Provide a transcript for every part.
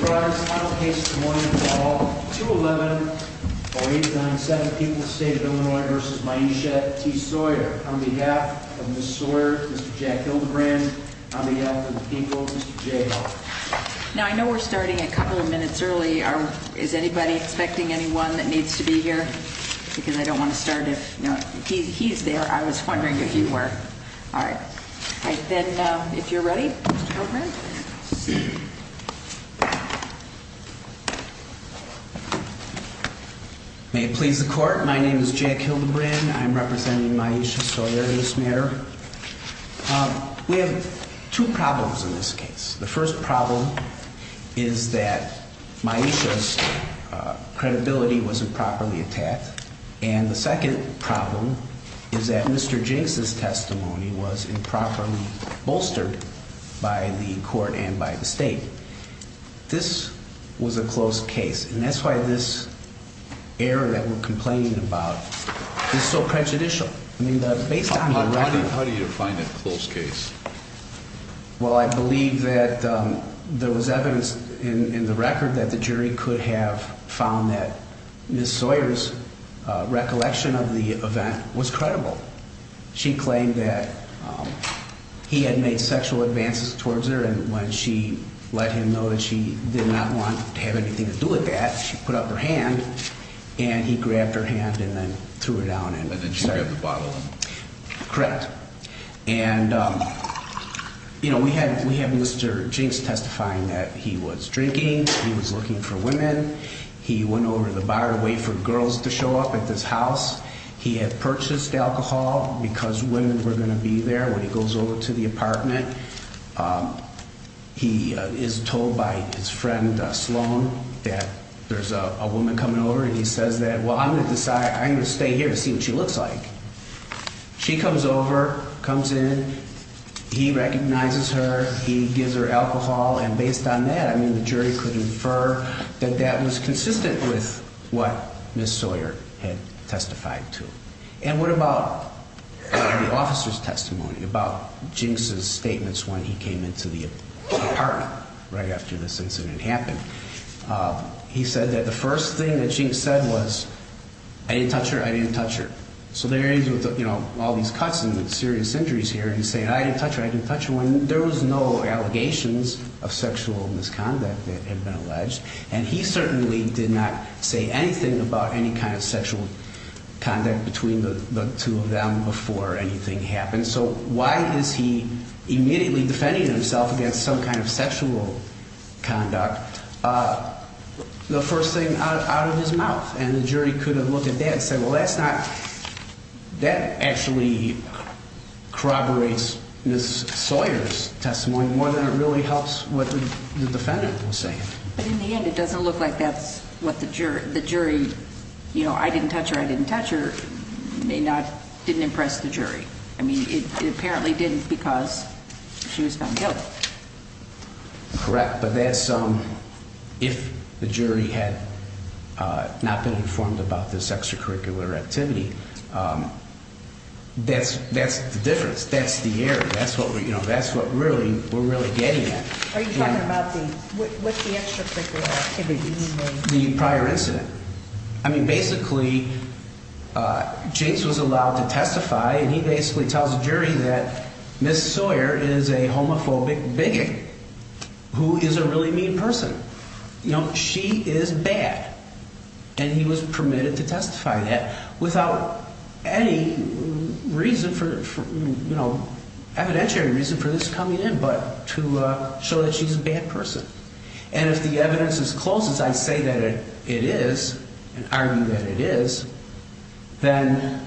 brought his final case this morning for all 2-11-089-7 People's State of Illinois v. Maisha T. Sawyer. On behalf of Ms. Sawyer, Mr. Jack Hildebrand, on behalf of the people, Mr. J. Hall. Now, I know we're starting a couple of minutes early. Is anybody expecting anyone that needs to be here? Because I don't want to start if he's there. I was wondering if you were. All right. Then, if you're ready, Mr. Hildebrand. May it please the court, my name is Jack Hildebrand. I'm representing Maisha Sawyer in this matter. We have two problems in this case. The first problem is that Maisha's credibility was improperly attacked. And the second problem is that Mr. Jinks' testimony was improperly bolstered by the court and by the state. This was a close case. And that's why this error that we're complaining about is so prejudicial. I mean, based on the record. How do you define a close case? Well, I believe that there was evidence in the record that the jury could have found that Ms. Sawyer's recollection of the event was credible. She claimed that he had made sexual advances towards her. And when she let him know that she did not want to have anything to do with that, she put up her hand. And he grabbed her hand and then threw her down. And then she grabbed the bottle. Correct. And, you know, we have Mr. Jinks testifying that he was drinking. He was looking for women. He went over to the bar to wait for girls to show up at this house. He had purchased alcohol because women were going to be there when he goes over to the apartment. He is told by his friend Sloan that there's a woman coming over and he says that, well, I'm going to decide I'm going to stay here to see what she looks like. She comes over, comes in. He recognizes her. He gives her alcohol. And based on that, I mean, the jury could infer that that was consistent with what Ms. Sawyer had testified to. And what about the officer's testimony about Jinks' statements when he came into the apartment right after this incident happened? He said that the first thing that Jinks said was, I didn't touch her, I didn't touch her. So there is, you know, all these cuts and serious injuries here, and he's saying, I didn't touch her, I didn't touch her, when there was no allegations of sexual misconduct that had been alleged. And he certainly did not say anything about any kind of sexual conduct between the two of them before anything happened. So why is he immediately defending himself against some kind of sexual conduct, the first thing out of his mouth? And the jury could have looked at that and said, well, that's not – that actually corroborates Ms. Sawyer's testimony more than it really helps what the defendant was saying. But in the end, it doesn't look like that's what the jury – you know, I didn't touch her, I didn't touch her, may not – didn't impress the jury. I mean, it apparently didn't because she was found guilty. Correct. But that's – if the jury had not been informed about this extracurricular activity, that's the difference. That's the error. That's what, you know, that's what really – we're really getting at. Are you talking about the – what's the extracurricular activity? The prior incident. I mean, basically, Jase was allowed to testify, and he basically tells the jury that Ms. Sawyer is a homophobic bigot who is a really mean person. You know, she is bad. And he was permitted to testify that without any reason for – you know, evidentiary reason for this coming in, but to show that she's a bad person. And if the evidence is close, as I say that it is, and argue that it is, then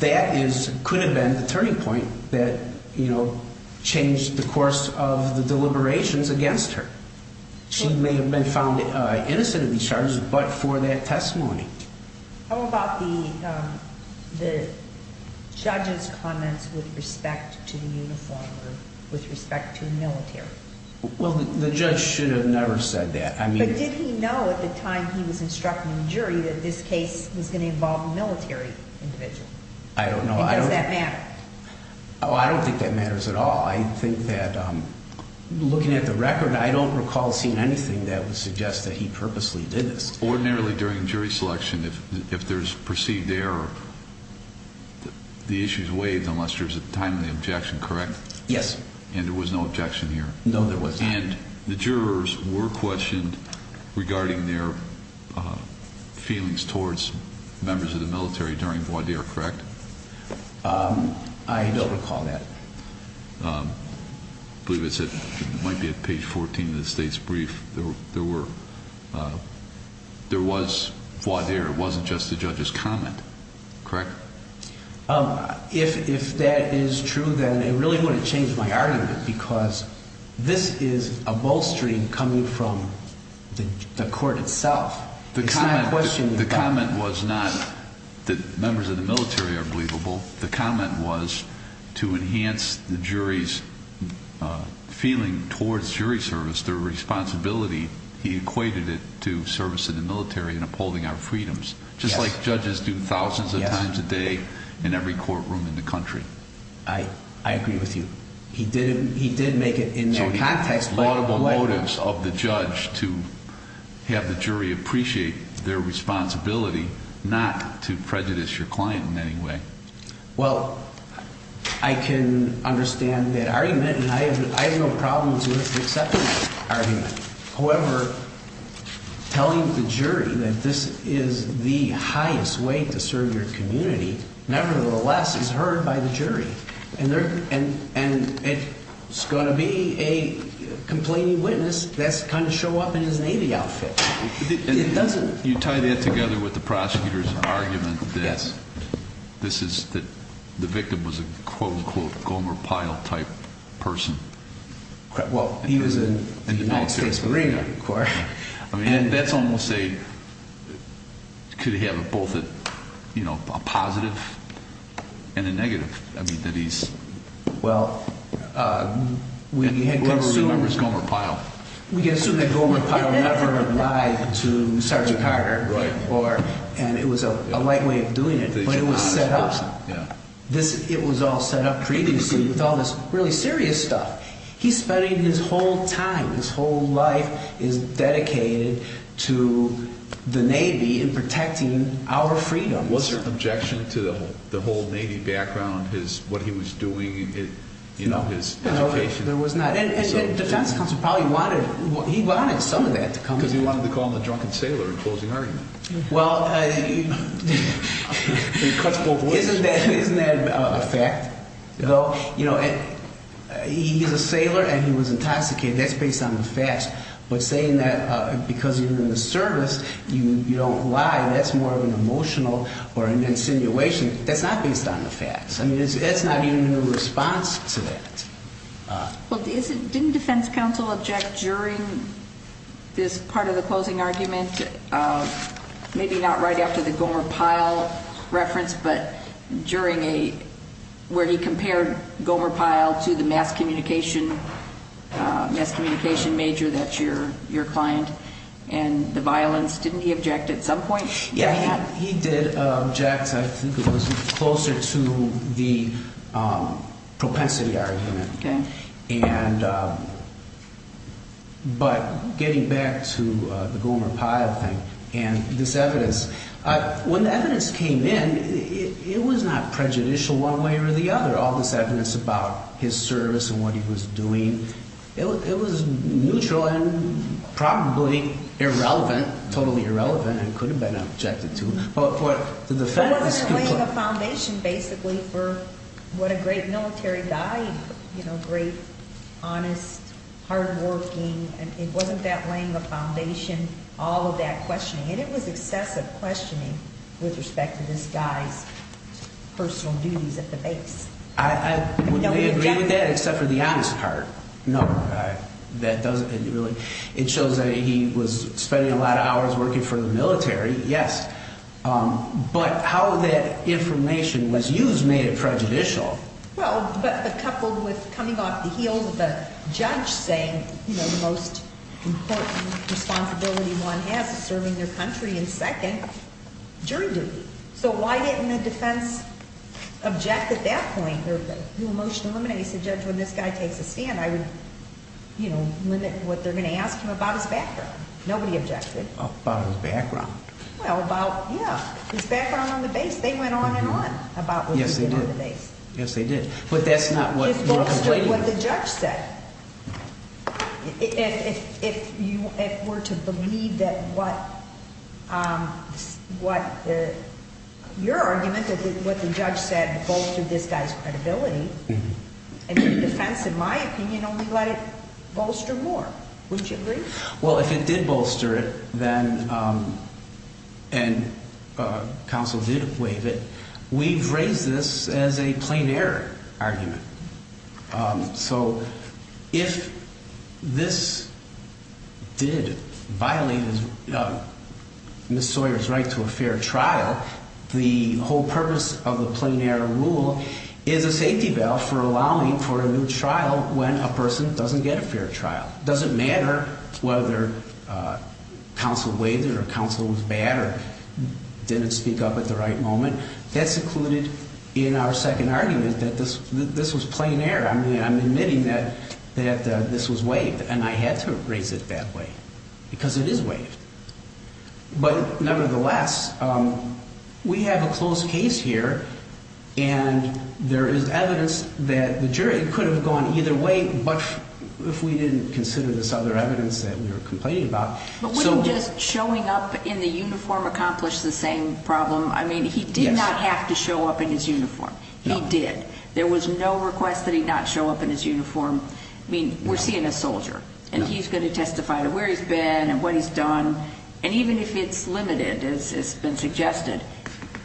that is – could have been the turning point that, you know, changed the course of the deliberations against her. She may have been found innocent of these charges, but for that testimony. How about the judge's comments with respect to the uniform or with respect to the military? Well, the judge should have never said that. I mean – But did he know at the time he was instructing the jury that this case was going to involve a military individual? I don't know. And does that matter? Oh, I don't think that matters at all. I think that looking at the record, I don't recall seeing anything that would suggest that he purposely did this. Ordinarily during jury selection, if there's perceived error, the issue is waived unless there's a timely objection, correct? Yes. And there was no objection here? No, there was not. And the jurors were questioned regarding their feelings towards members of the military during voir dire, correct? I don't recall that. I believe it might be at page 14 of the state's brief. There was voir dire. It wasn't just the judge's comment, correct? If that is true, then it really wouldn't change my argument because this is a bolstering coming from the court itself. The comment was not that members of the military are believable. The comment was to enhance the jury's feeling towards jury service, their responsibility. He equated it to service in the military and upholding our freedoms, just like judges do thousands of times a day in every courtroom in the country. I agree with you. He did make it in that context. There are laudable motives of the judge to have the jury appreciate their responsibility, not to prejudice your client in any way. Well, I can understand that argument, and I have no problem with accepting that argument. However, telling the jury that this is the highest way to serve your community, nevertheless, is heard by the jury. It's going to be a complaining witness that's going to show up in his Navy outfit. You tie that together with the prosecutor's argument that the victim was a quote-unquote Gomer Pyle-type person. Well, he was in the United States Marine Corps. Could he have both a positive and a negative? Well, we can assume that Gomer Pyle never lied to Sergeant Carter, and it was a light way of doing it, but it was set up. It was all set up previously with all this really serious stuff. He's spending his whole time, his whole life, is dedicated to the Navy and protecting our freedoms. Was there an objection to the whole Navy background, what he was doing, his education? No, there was not. The defense counsel probably wanted some of that to come in. Because he wanted to call him the drunken sailor in closing argument. Well, isn't that a fact? Well, you know, he's a sailor and he was intoxicated. That's based on the facts. But saying that because you're in the service, you don't lie, that's more of an emotional or an insinuation. That's not based on the facts. I mean, that's not even a response to that. Well, didn't defense counsel object during this part of the closing argument, maybe not right after the Gomer Pyle reference, but where he compared Gomer Pyle to the mass communication major that's your client and the violence? Didn't he object at some point? Yeah, he did object. I think it was closer to the propensity argument. But getting back to the Gomer Pyle thing and this evidence, when the evidence came in, it was not prejudicial one way or the other. All this evidence about his service and what he was doing, it was neutral and probably irrelevant, totally irrelevant, and could have been objected to. But wasn't it laying a foundation basically for what a great military guy, you know, great, honest, hardworking, and it wasn't that laying a foundation, all of that questioning. And it was excessive questioning with respect to this guy's personal duties at the base. I would agree with that, except for the honest part. No, that doesn't really. It shows that he was spending a lot of hours working for the military, yes. But how that information was used made it prejudicial. Well, but coupled with coming off the heels of a judge saying, you know, the most important responsibility one has is serving their country, and second, jury duty. So why didn't the defense object at that point? The motion eliminates the judge when this guy takes a stand. I would, you know, limit what they're going to ask him about his background. Nobody objected. About his background. Well, about, yeah, his background on the base. They went on and on about what they did on the base. Yes, they did. But that's not what you're complaining about. It bolstered what the judge said. If you were to believe that what, your argument that what the judge said bolstered this guy's credibility, the defense, in my opinion, only let it bolster more. Wouldn't you agree? Well, if it did bolster it, then, and counsel did waive it, we've raised this as a plain error argument. So if this did violate Ms. Sawyer's right to a fair trial, the whole purpose of the plain error rule is a safety valve for allowing for a new trial when a person doesn't get a fair trial. It doesn't matter whether counsel waived it or counsel was bad or didn't speak up at the right moment. That's included in our second argument that this was plain error. I mean, I'm admitting that this was waived, and I had to raise it that way because it is waived. But, nevertheless, we have a closed case here, and there is evidence that the jury could have gone either way, if we didn't consider this other evidence that we were complaining about. But wouldn't just showing up in the uniform accomplish the same problem? I mean, he did not have to show up in his uniform. He did. There was no request that he not show up in his uniform. I mean, we're seeing a soldier, and he's going to testify to where he's been and what he's done. And even if it's limited, as has been suggested,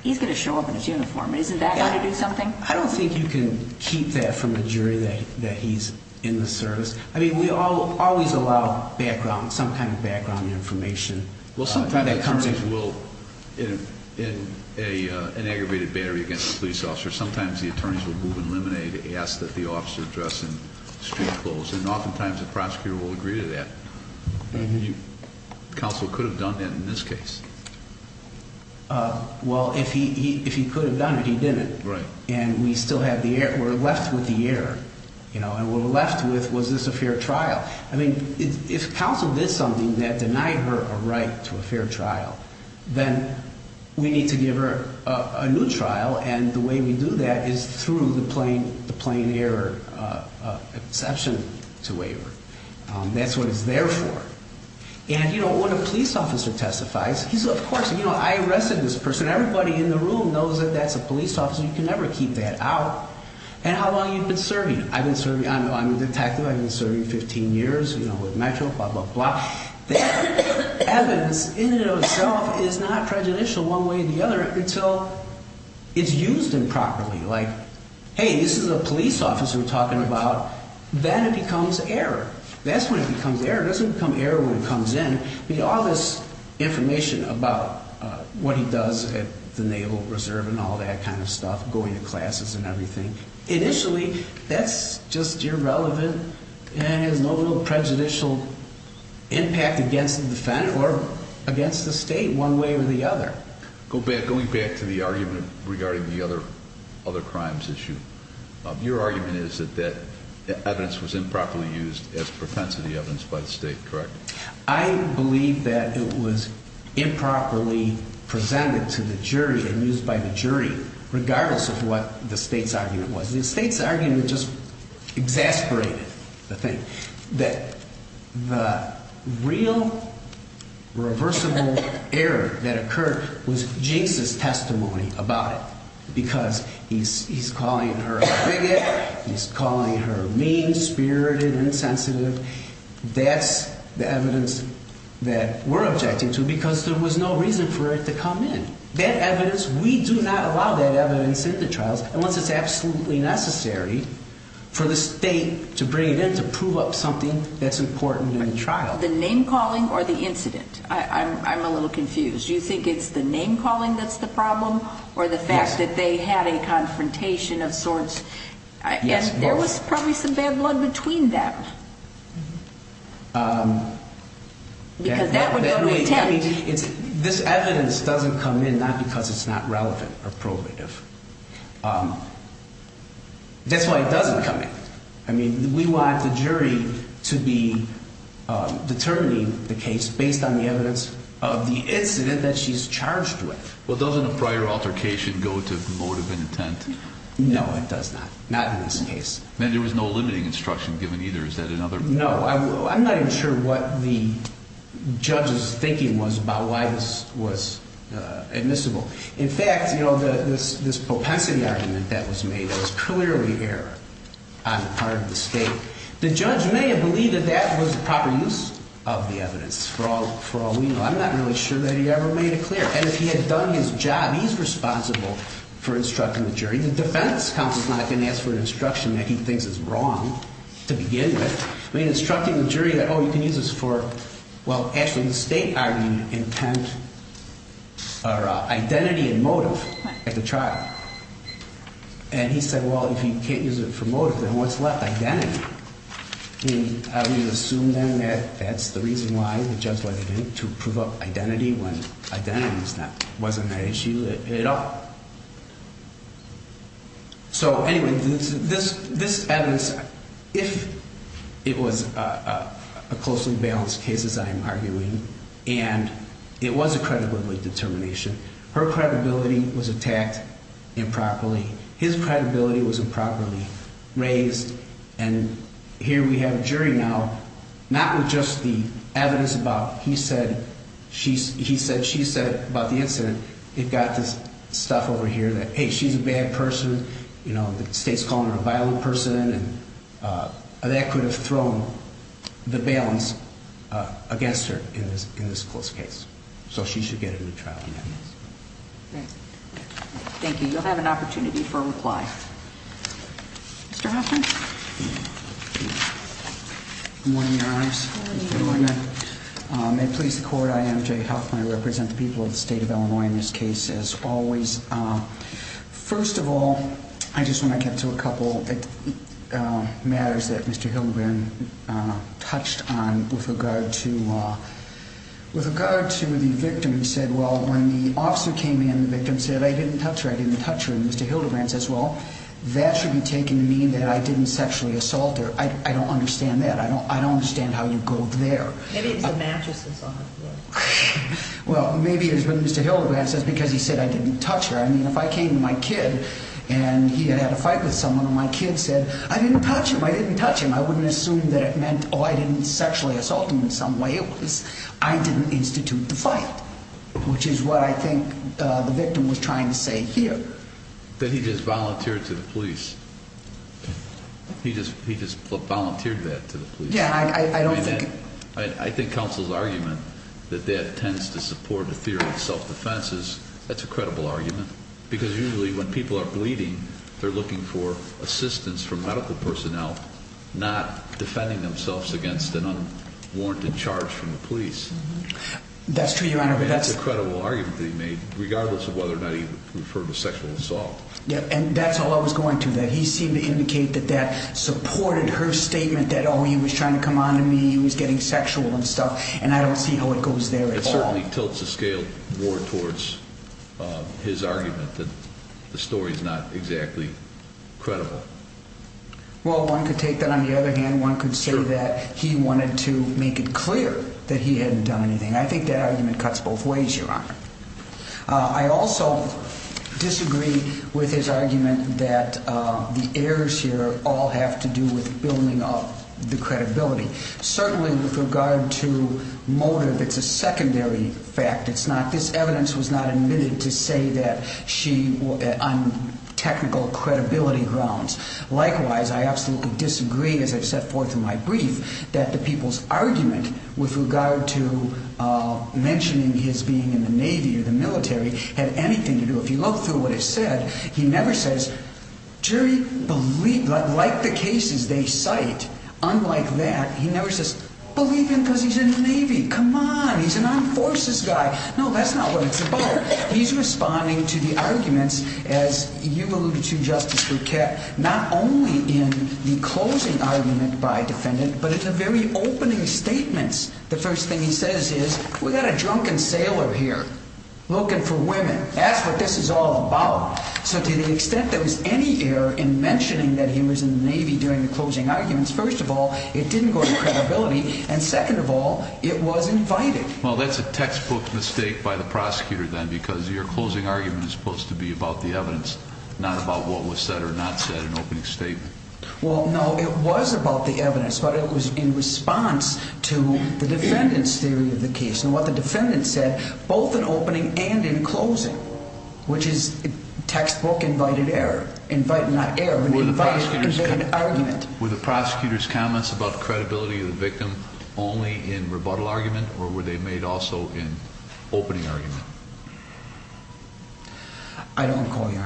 he's going to show up in his uniform. Isn't that going to do something? I don't think you can keep that from a jury that he's in the service. I mean, we always allow background, some kind of background information. Well, sometimes attorneys will, in an aggravated battery against a police officer, sometimes the attorneys will move and eliminate ask that the officer address in street clothes, and oftentimes the prosecutor will agree to that. Counsel could have done that in this case. Well, if he could have done it, he didn't. And we're left with the error. And we're left with, was this a fair trial? I mean, if counsel did something that denied her a right to a fair trial, then we need to give her a new trial. And the way we do that is through the plain error exception to waiver. That's what it's there for. And when a police officer testifies, he says, of course, I arrested this person. Everybody in the room knows that that's a police officer. You can never keep that out. And how long have you been serving? I've been serving, I'm a detective. I've been serving 15 years, you know, with Metro, blah, blah, blah. That evidence in and of itself is not prejudicial one way or the other until it's used improperly. Like, hey, this is a police officer we're talking about. Then it becomes error. That's when it becomes error. It doesn't become error when it comes in. I mean, all this information about what he does at the Naval Reserve and all that kind of stuff, going to classes and everything, initially that's just irrelevant and has no real prejudicial impact against the defendant or against the state one way or the other. Going back to the argument regarding the other crimes issue, your argument is that that evidence was improperly used as propensity evidence by the state, correct? I believe that it was improperly presented to the jury and used by the jury, regardless of what the state's argument was. The state's argument just exasperated the thing, that the real reversible error that occurred was Jinks' testimony about it because he's calling her a bigot, he's calling her mean, spirited, insensitive. That's the evidence that we're objecting to because there was no reason for it to come in. That evidence, we do not allow that evidence in the trials. And once it's absolutely necessary for the state to bring it in, to prove up something that's important in the trial. The name-calling or the incident? I'm a little confused. Do you think it's the name-calling that's the problem or the fact that they had a confrontation of sorts? Yes, both. There was probably some bad blood between them because that would go to intent. This evidence doesn't come in not because it's not relevant or probative. That's why it doesn't come in. I mean, we want the jury to be determining the case based on the evidence of the incident that she's charged with. Well, doesn't a prior altercation go to motive and intent? No, it does not. Not in this case. And there was no limiting instruction given either. Is that another? No. I'm not even sure what the judge's thinking was about why this was admissible. In fact, this propensity argument that was made was clearly error on the part of the state. The judge may have believed that that was the proper use of the evidence for all we know. I'm not really sure that he ever made it clear. And if he had done his job, he's responsible for instructing the jury. The defense counsel's not going to ask for an instruction that he thinks is wrong to begin with. I mean, instructing the jury that, oh, you can use this for, well, actually the state argument, intent, or identity and motive at the trial. And he said, well, if you can't use it for motive, then what's left? Identity. I mean, how do you assume then that that's the reason why the judge wanted him to prove up identity when identity wasn't an issue at all? So, anyway, this evidence, if it was a closely balanced case, as I'm arguing, and it was a credibility determination, her credibility was attacked improperly, his credibility was improperly raised, and here we have a jury now, not with just the evidence about he said, she said, he said, she said about the incident. They've got this stuff over here that, hey, she's a bad person, you know, the state's calling her a violent person, and that could have thrown the balance against her in this close case. So she should get a new trial. Thanks. Thank you. You'll have an opportunity for a reply. Mr. Hoffman? Good morning, Your Honors. Good morning. May it please the Court, I am Jay Hoffman. I represent the people of the state of Illinois in this case, as always. First of all, I just want to get to a couple matters that Mr. Hildebrand touched on with regard to the victim. You said, well, when the officer came in, the victim said, I didn't touch her, I didn't touch her, and Mr. Hildebrand says, well, that should be taken to mean that I didn't sexually assault her. I don't understand that. I don't understand how you go there. Maybe it's the mattresses on her. Well, maybe it's when Mr. Hildebrand says, because he said, I didn't touch her. I mean, if I came to my kid and he had had a fight with someone, and my kid said, I didn't touch him, I didn't touch him, I wouldn't assume that it meant, oh, I didn't sexually assault him in some way. It was, I didn't institute the fight, which is what I think the victim was trying to say here. That he just volunteered to the police. He just volunteered that to the police. Yeah, I don't think. I think counsel's argument that that tends to support the theory of self-defense is, that's a credible argument. Because usually when people are bleeding, they're looking for assistance from medical personnel, not defending themselves against an unwarranted charge from the police. That's true, Your Honor. That's a credible argument that he made, regardless of whether or not he referred to sexual assault. Yeah, and that's all I was going to, that he seemed to indicate that that supported her statement that, oh, he was trying to come on to me, he was getting sexual and stuff, and I don't see how it goes there at all. It certainly tilts the scale more towards his argument that the story's not exactly credible. Well, one could take that on the other hand. One could say that he wanted to make it clear that he hadn't done anything. I think that argument cuts both ways, Your Honor. I also disagree with his argument that the errors here all have to do with building up the credibility. Certainly with regard to motive, it's a secondary fact. It's not, this evidence was not admitted to say that she, on technical credibility grounds. Likewise, I absolutely disagree, as I've set forth in my brief, that the people's argument with regard to mentioning his being in the Navy or the military had anything to do, if you look through what it said, he never says, jury believe, like the cases they cite, unlike that, he never says, believe him because he's in the Navy, come on, he's an armed forces guy. No, that's not what it's about. He's responding to the arguments, as you alluded to, Justice Bruchette, not only in the closing argument by a defendant, but in the very opening statements. The first thing he says is, we've got a drunken sailor here looking for women. That's what this is all about. So to the extent there was any error in mentioning that he was in the Navy during the closing arguments, first of all, it didn't go to credibility, and second of all, it was invited. Well, that's a textbook mistake by the prosecutor then, because your closing argument is supposed to be about the evidence, not about what was said or not said in the opening statement. Well, no, it was about the evidence, but it was in response to the defendant's theory of the case. And what the defendant said, both in opening and in closing, which is textbook invited error. Not error, but invited argument. Were the prosecutor's comments about credibility of the victim only in rebuttal argument, or were they made also in opening argument? I don't recall, Your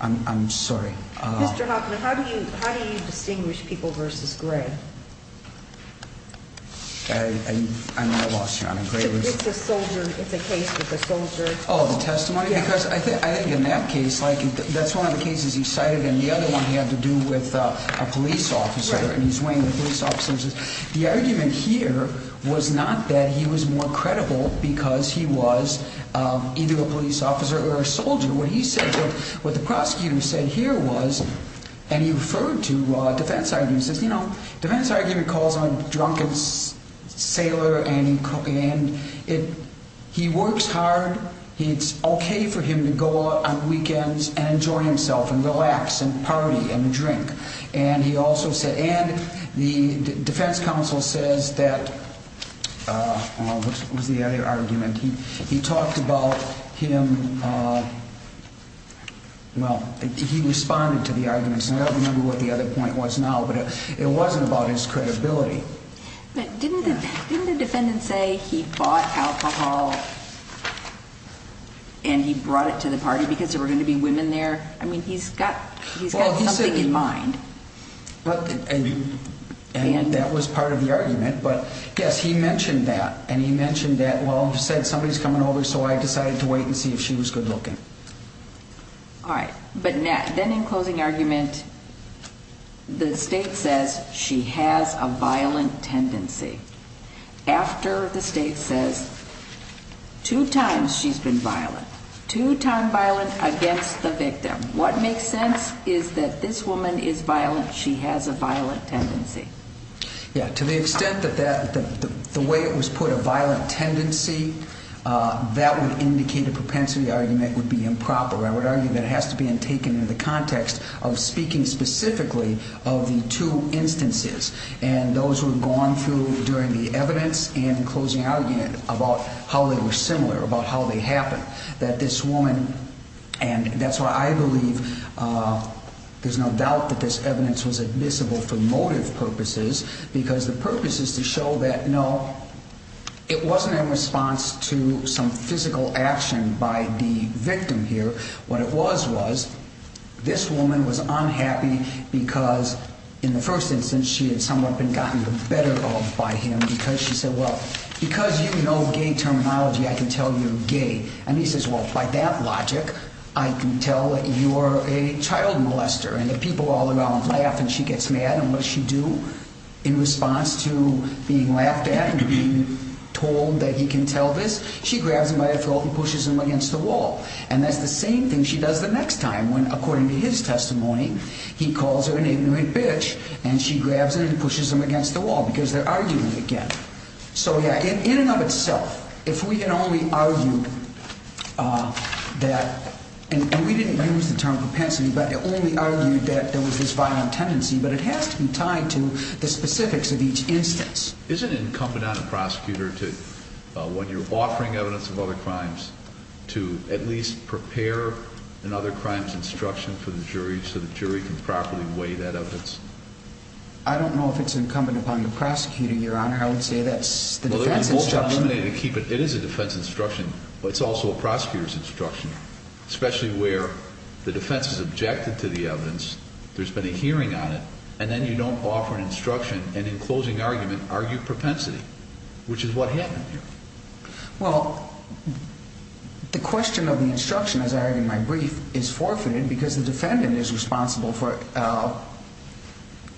Honor. I'm sorry. Mr. Hoffman, how do you distinguish people versus Gray? I lost you, Your Honor. Gray was... It's a soldier. It's a case with a soldier. Oh, the testimony? Because I think in that case, like, that's one of the cases he cited, and the other one he had to do with a police officer, and he's weighing the police officers. The argument here was not that he was more credible because he was either a police officer or a soldier. What he said, what the prosecutor said here was, and he referred to defense arguments, and he says, you know, defense argument calls him a drunken sailor, and he works hard. It's okay for him to go out on weekends and enjoy himself and relax and party and drink. And he also said, and the defense counsel says that, what was the other argument? He talked about him, well, he responded to the arguments. I don't remember what the other point was now, but it wasn't about his credibility. But didn't the defendant say he bought alcohol and he brought it to the party because there were going to be women there? I mean, he's got something in mind. And that was part of the argument, but, yes, he mentioned that, and he mentioned that, well, he said, somebody's coming over, so I decided to wait and see if she was good looking. All right, but then in closing argument, the state says she has a violent tendency. After the state says two times she's been violent, two-time violent against the victim, what makes sense is that this woman is violent, she has a violent tendency. Yeah, to the extent that the way it was put, a violent tendency, that would indicate a propensity argument would be improper. I would argue that it has to be taken in the context of speaking specifically of the two instances and those who have gone through during the evidence and closing argument about how they were similar, about how they happened, that this woman, and that's why I believe there's no doubt that this evidence was admissible for motive purposes because the purpose is to show that, no, it wasn't in response to some physical action by the victim here. What it was was this woman was unhappy because, in the first instance, she had somewhat been gotten the better of by him because she said, well, because you know gay terminology, I can tell you're gay. And he says, well, by that logic, I can tell that you're a child molester. And the people all around laugh and she gets mad and what does she do in response to being laughed at and being told that he can tell this? She grabs him by the throat and pushes him against the wall. And that's the same thing she does the next time when, according to his testimony, he calls her an ignorant bitch and she grabs him and pushes him against the wall because they're arguing again. So, yeah, in and of itself, if we can only argue that, and we didn't use the term propensity, but only argued that there was this violent tendency, but it has to be tied to the specifics of each instance. Isn't it incumbent on a prosecutor to, when you're offering evidence of other crimes, to at least prepare another crime's instruction for the jury so the jury can properly weigh that evidence? I don't know if it's incumbent upon the prosecutor, Your Honor. I would say that's the defense instruction. But it's also a prosecutor's instruction, especially where the defense has objected to the evidence, there's been a hearing on it, and then you don't offer an instruction and, in closing argument, argue propensity, which is what happened here. Well, the question of the instruction, as I argue in my brief, is forfeited because the defendant is responsible for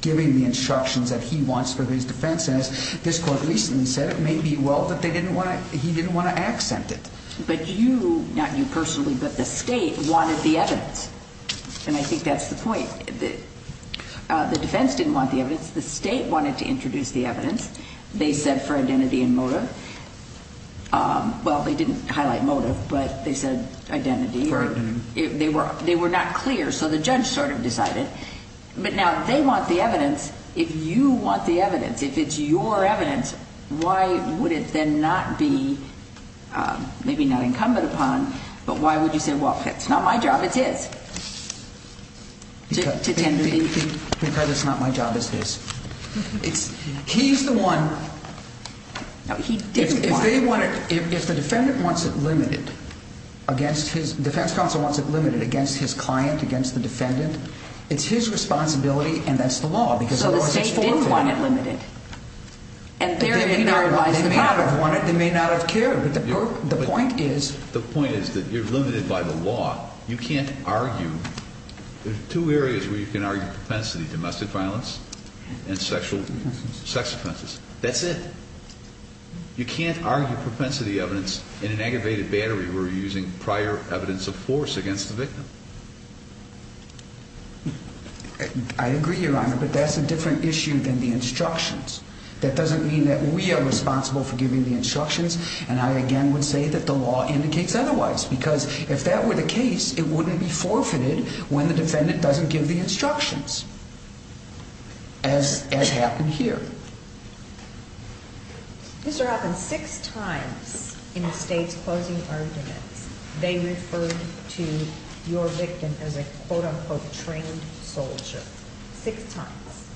giving the instructions that he wants for his defense. And as this Court recently said, it may be well that he didn't want to accent it. But you, not you personally, but the State wanted the evidence. And I think that's the point. The defense didn't want the evidence. The State wanted to introduce the evidence. They said for identity and motive. Well, they didn't highlight motive, but they said identity. For identity. They were not clear, so the judge sort of decided. But now they want the evidence. If you want the evidence, if it's your evidence, why would it then not be maybe not incumbent upon, but why would you say, well, if it's not my job, it's his? Because it's not my job, it's his. He's the one. No, he didn't want it. If the defendant wants it limited against his defense counsel wants it limited against his client, against the defendant, it's his responsibility and that's the law. So the State did want it limited. And therein lies the problem. They may not have wanted, they may not have cared. But the point is. The point is that you're limited by the law. You can't argue. There are two areas where you can argue propensity, domestic violence and sexual, sex offenses. That's it. You can't argue propensity evidence in an aggravated battery where you're using prior evidence of force against the victim. I agree, Your Honor, but that's a different issue than the instructions. That doesn't mean that we are responsible for giving the instructions. And I, again, would say that the law indicates otherwise. Because if that were the case, it wouldn't be forfeited when the defendant doesn't give the instructions. As happened here. Mr. Hoffman, six times in the State's closing arguments, they referred to your victim as a quote-unquote trained soldier. Six times.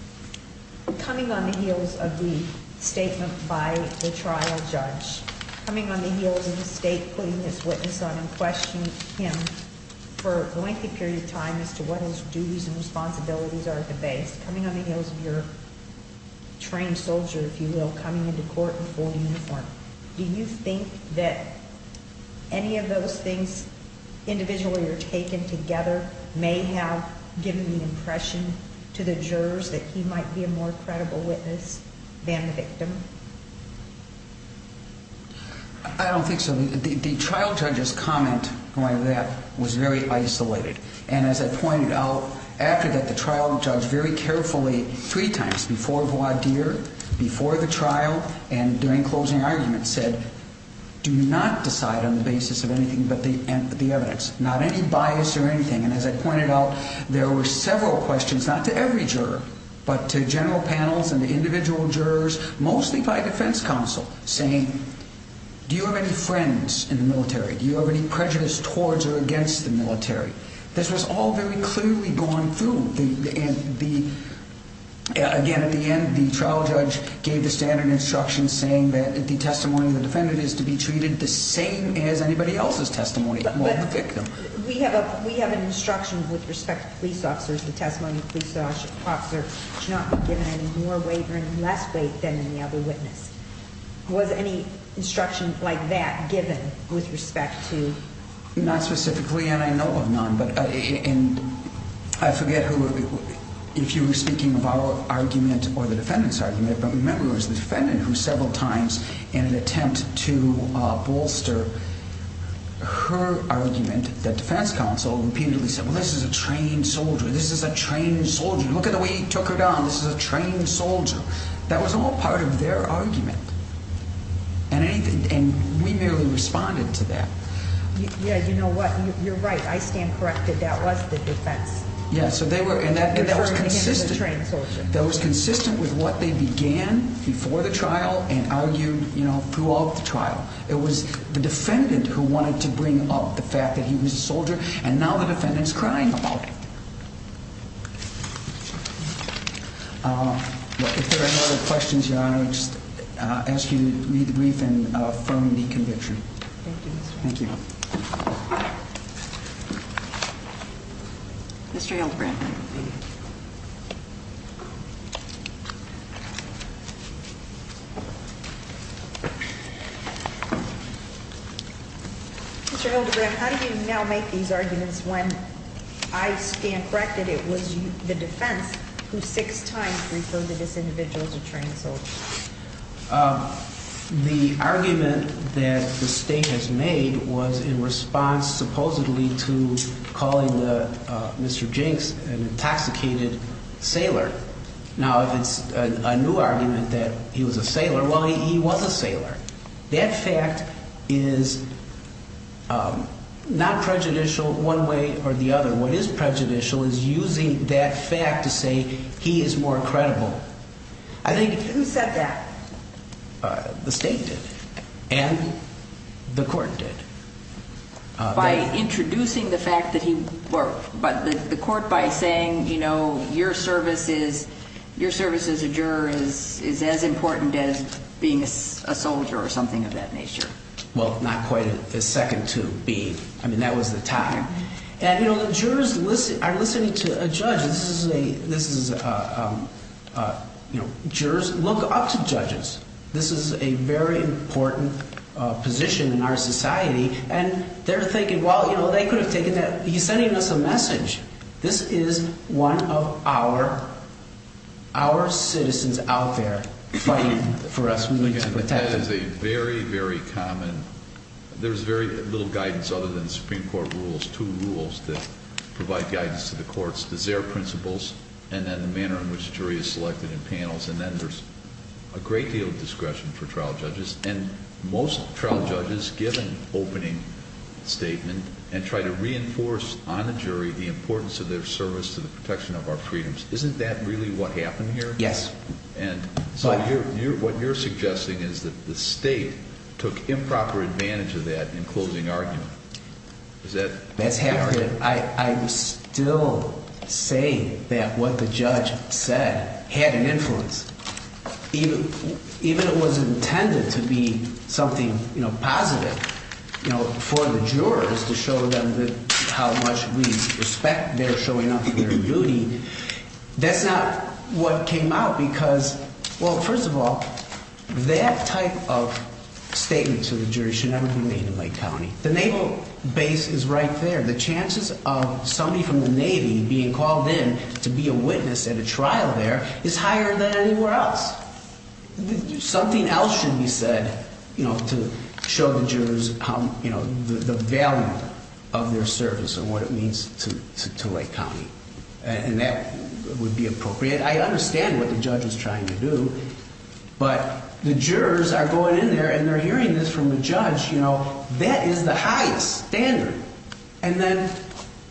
Coming on the heels of the statement by the trial judge. Coming on the heels of the State putting its witness on and questioning him for a lengthy period of time as to what his duties and responsibilities are at the base. Coming on the heels of your trained soldier, if you will, coming into court in full uniform. Do you think that any of those things individually or taken together may have given the impression to the jurors that he might be a more credible witness than the victim? I don't think so. The trial judge's comment on that was very isolated. And as I pointed out, after that, the trial judge very carefully, three times, before voir dire, before the trial, and during closing arguments, said, do not decide on the basis of anything but the evidence. Not any bias or anything. And as I pointed out, there were several questions, not to every juror, but to general panels and individual jurors, mostly by defense counsel, saying, do you have any friends in the military? Do you have any prejudice towards or against the military? This was all very clearly gone through. And again, at the end, the trial judge gave the standard instruction saying that the testimony of the defendant is to be treated the same as anybody else's testimony of the victim. We have an instruction with respect to police officers, the testimony of a police officer should not be given any more weight or any less weight than any other witness. Was any instruction like that given with respect to? Not specifically, and I know of none. And I forget who, if you were speaking of our argument or the defendant's argument, but remember it was the defendant who several times, in an attempt to bolster her argument, the defense counsel repeatedly said, well, this is a trained soldier. This is a trained soldier. Look at the way he took her down. This is a trained soldier. That was all part of their argument. And we merely responded to that. Yeah, you know what? You're right. I stand corrected. That was the defense. Yeah, so they were, and that was consistent. That was consistent with what they began before the trial and argued throughout the trial. It was the defendant who wanted to bring up the fact that he was a soldier, and now the defendant's crying about it. If there are no other questions, Your Honor, I'll just ask you to read the brief and affirm the conviction. Thank you. Thank you. Mr. Hildebrandt. Mr. Hildebrandt, how do you now make these arguments when I stand corrected it was the defense who six times referred to this individual as a trained soldier? The argument that the state has made was in response supposedly to calling Mr. Jinks an intoxicated sailor. Now, if it's a new argument that he was a sailor, well, he was a sailor. That fact is not prejudicial one way or the other. What is prejudicial is using that fact to say he is more credible. Who said that? The state did, and the court did. By introducing the fact that he, or the court by saying, you know, your service as a juror is as important as being a soldier or something of that nature. Well, not quite as second to being. I mean, that was the time. And, you know, the jurors are listening to a judge. This is a, you know, jurors look up to judges. This is a very important position in our society. And they're thinking, well, you know, they could have taken that. He's sending us a message. This is one of our citizens out there fighting for us. That is a very, very common. There's very little guidance other than the Supreme Court rules, two rules that provide guidance to the courts. There's their principles and then the manner in which a jury is selected in panels. And then there's a great deal of discretion for trial judges. And most trial judges give an opening statement and try to reinforce on the jury the importance of their service to the protection of our freedoms. Isn't that really what happened here? Yes. And so what you're suggesting is that the state took improper advantage of that in closing argument. Is that correct? That's accurate. I still say that what the judge said had an influence. Even if it was intended to be something, you know, positive, you know, for the jurors to show them how much we respect their showing up for their duty. That's not what came out because, well, first of all, that type of statement to the jury should never be made in Lake County. The naval base is right there. The chances of somebody from the Navy being called in to be a witness at a trial there is higher than anywhere else. Something else should be said, you know, to show the jurors, you know, the value of their service and what it means to Lake County. And that would be appropriate. I understand what the judge is trying to do, but the jurors are going in there and they're hearing this from the judge. You know, that is the highest standard. And then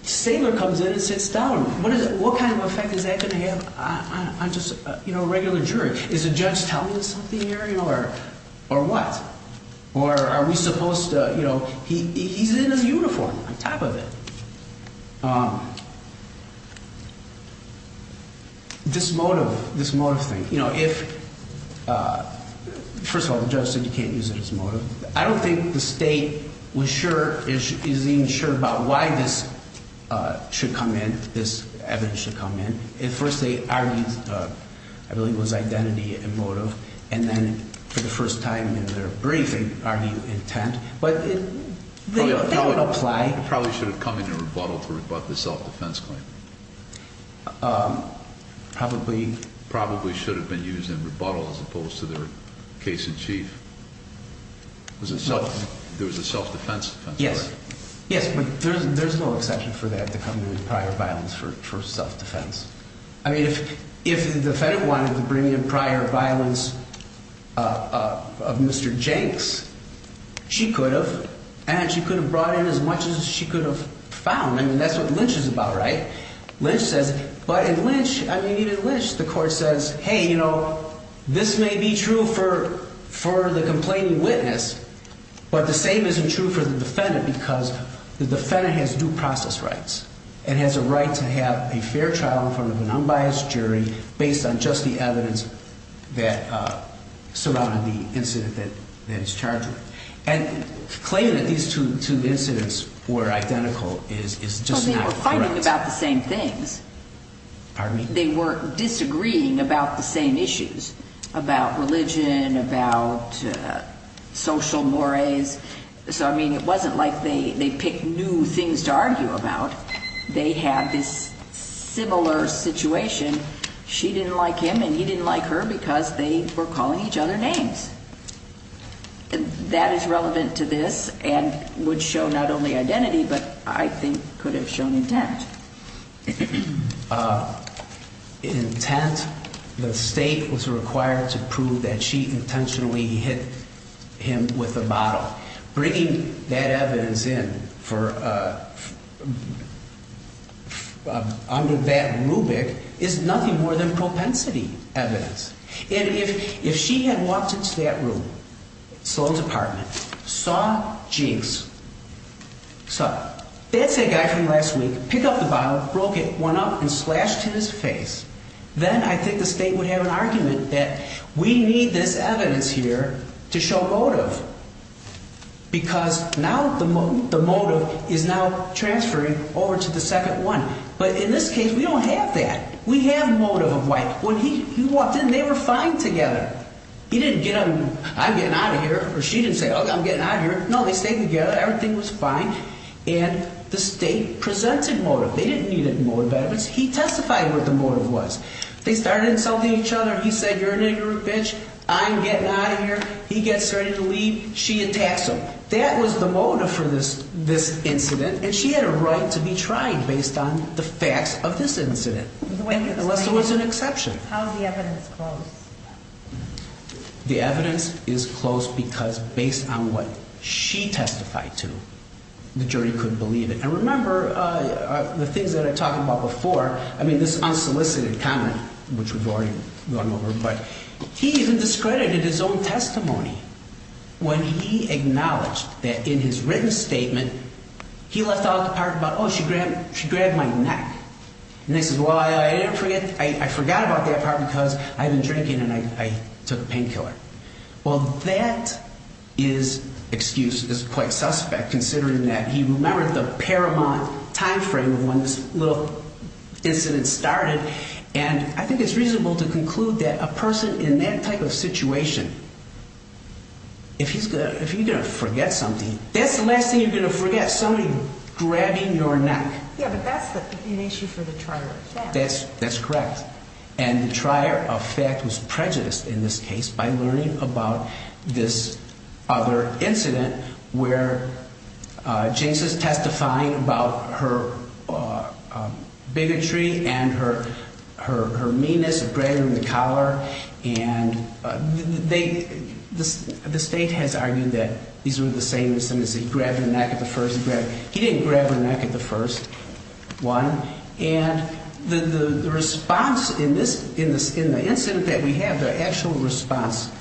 Saylor comes in and sits down. What is it? What kind of effect is that going to have on just, you know, a regular jury? Is the judge telling us something here or what? Or are we supposed to, you know, he's in his uniform on top of it. This motive, this motive thing, you know, if, first of all, the judge said you can't use it as motive. I don't think the state was sure, is even sure about why this should come in, this evidence should come in. At first they argued, I believe it was identity and motive. And then for the first time in their briefing, argued intent. But that would apply. I think it probably should have come in a rebuttal for the self-defense claim. Probably. Probably should have been used in rebuttal as opposed to their case in chief. There was a self-defense claim. Yes. Yes, but there's no exception for that to come to the prior violence for self-defense. I mean, if the defendant wanted to bring in prior violence of Mr. Jenks, she could have. And she could have brought in as much as she could have found. I mean, that's what Lynch is about, right? Lynch says, but in Lynch, I mean, even Lynch, the court says, hey, you know, this may be true for the complaining witness. But the same isn't true for the defendant because the defendant has due process rights. And has a right to have a fair trial in front of an unbiased jury based on just the evidence that surrounded the incident that he's charged with. And claiming that these two incidents were identical is just not correct. Well, they were fighting about the same things. Pardon me? They were disagreeing about the same issues, about religion, about social mores. So, I mean, it wasn't like they picked new things to argue about. They had this similar situation. She didn't like him and he didn't like her because they were calling each other names. And that is relevant to this and would show not only identity, but I think could have shown intent. Intent, the state was required to prove that she intentionally hit him with a bottle. Bringing that evidence in for under that rubric is nothing more than propensity evidence. And if she had walked into that room, sold his apartment, saw Jinx, that's that guy from last week, pick up the bottle, broke it, went up and slashed his face. Then I think the state would have an argument that we need this evidence here to show motive. Because now the motive is now transferring over to the second one. But in this case, we don't have that. We have motive of why. When he walked in, they were fine together. He didn't get on, I'm getting out of here, or she didn't say, oh, I'm getting out of here. No, they stayed together. Everything was fine. And the state presented motive. They didn't need motive evidence. He testified what the motive was. They started insulting each other. He said, you're a nigger, bitch. I'm getting out of here. He gets ready to leave. She attacks him. That was the motive for this incident. And she had a right to be tried based on the facts of this incident. Unless there was an exception. How is the evidence close? The evidence is close because based on what she testified to, the jury couldn't believe it. And remember, the things that I talked about before, I mean, this unsolicited comment, which we've already gone over. But he even discredited his own testimony when he acknowledged that in his written statement, he left out the part about, oh, she grabbed my neck. And he says, well, I didn't forget. I forgot about that part because I've been drinking and I took a painkiller. Well, that is excused. It's quite suspect considering that he remembered the paramount timeframe of when this little incident started. And I think it's reasonable to conclude that a person in that type of situation, if he's going to forget something, that's the last thing you're going to forget, somebody grabbing your neck. Yeah, but that's an issue for the trier of fact. That's correct. And the trier of fact was prejudiced in this case by learning about this other incident where Jason's testifying about her bigotry and her meanness of grabbing the collar. And the state has argued that these were the same incidents. He grabbed her neck at the first. He didn't grab her neck at the first one. And the response in the incident that we have, the actual response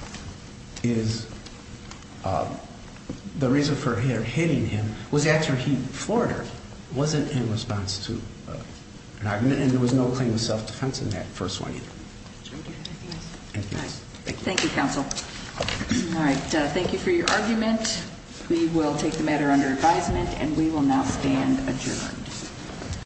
is the reason for her hitting him was after he flirted. It wasn't in response to an argument. And there was no claim of self-defense in that first one either. Thank you, counsel. All right. Thank you for your argument. We will take the matter under advisement, and we will now stand adjourned.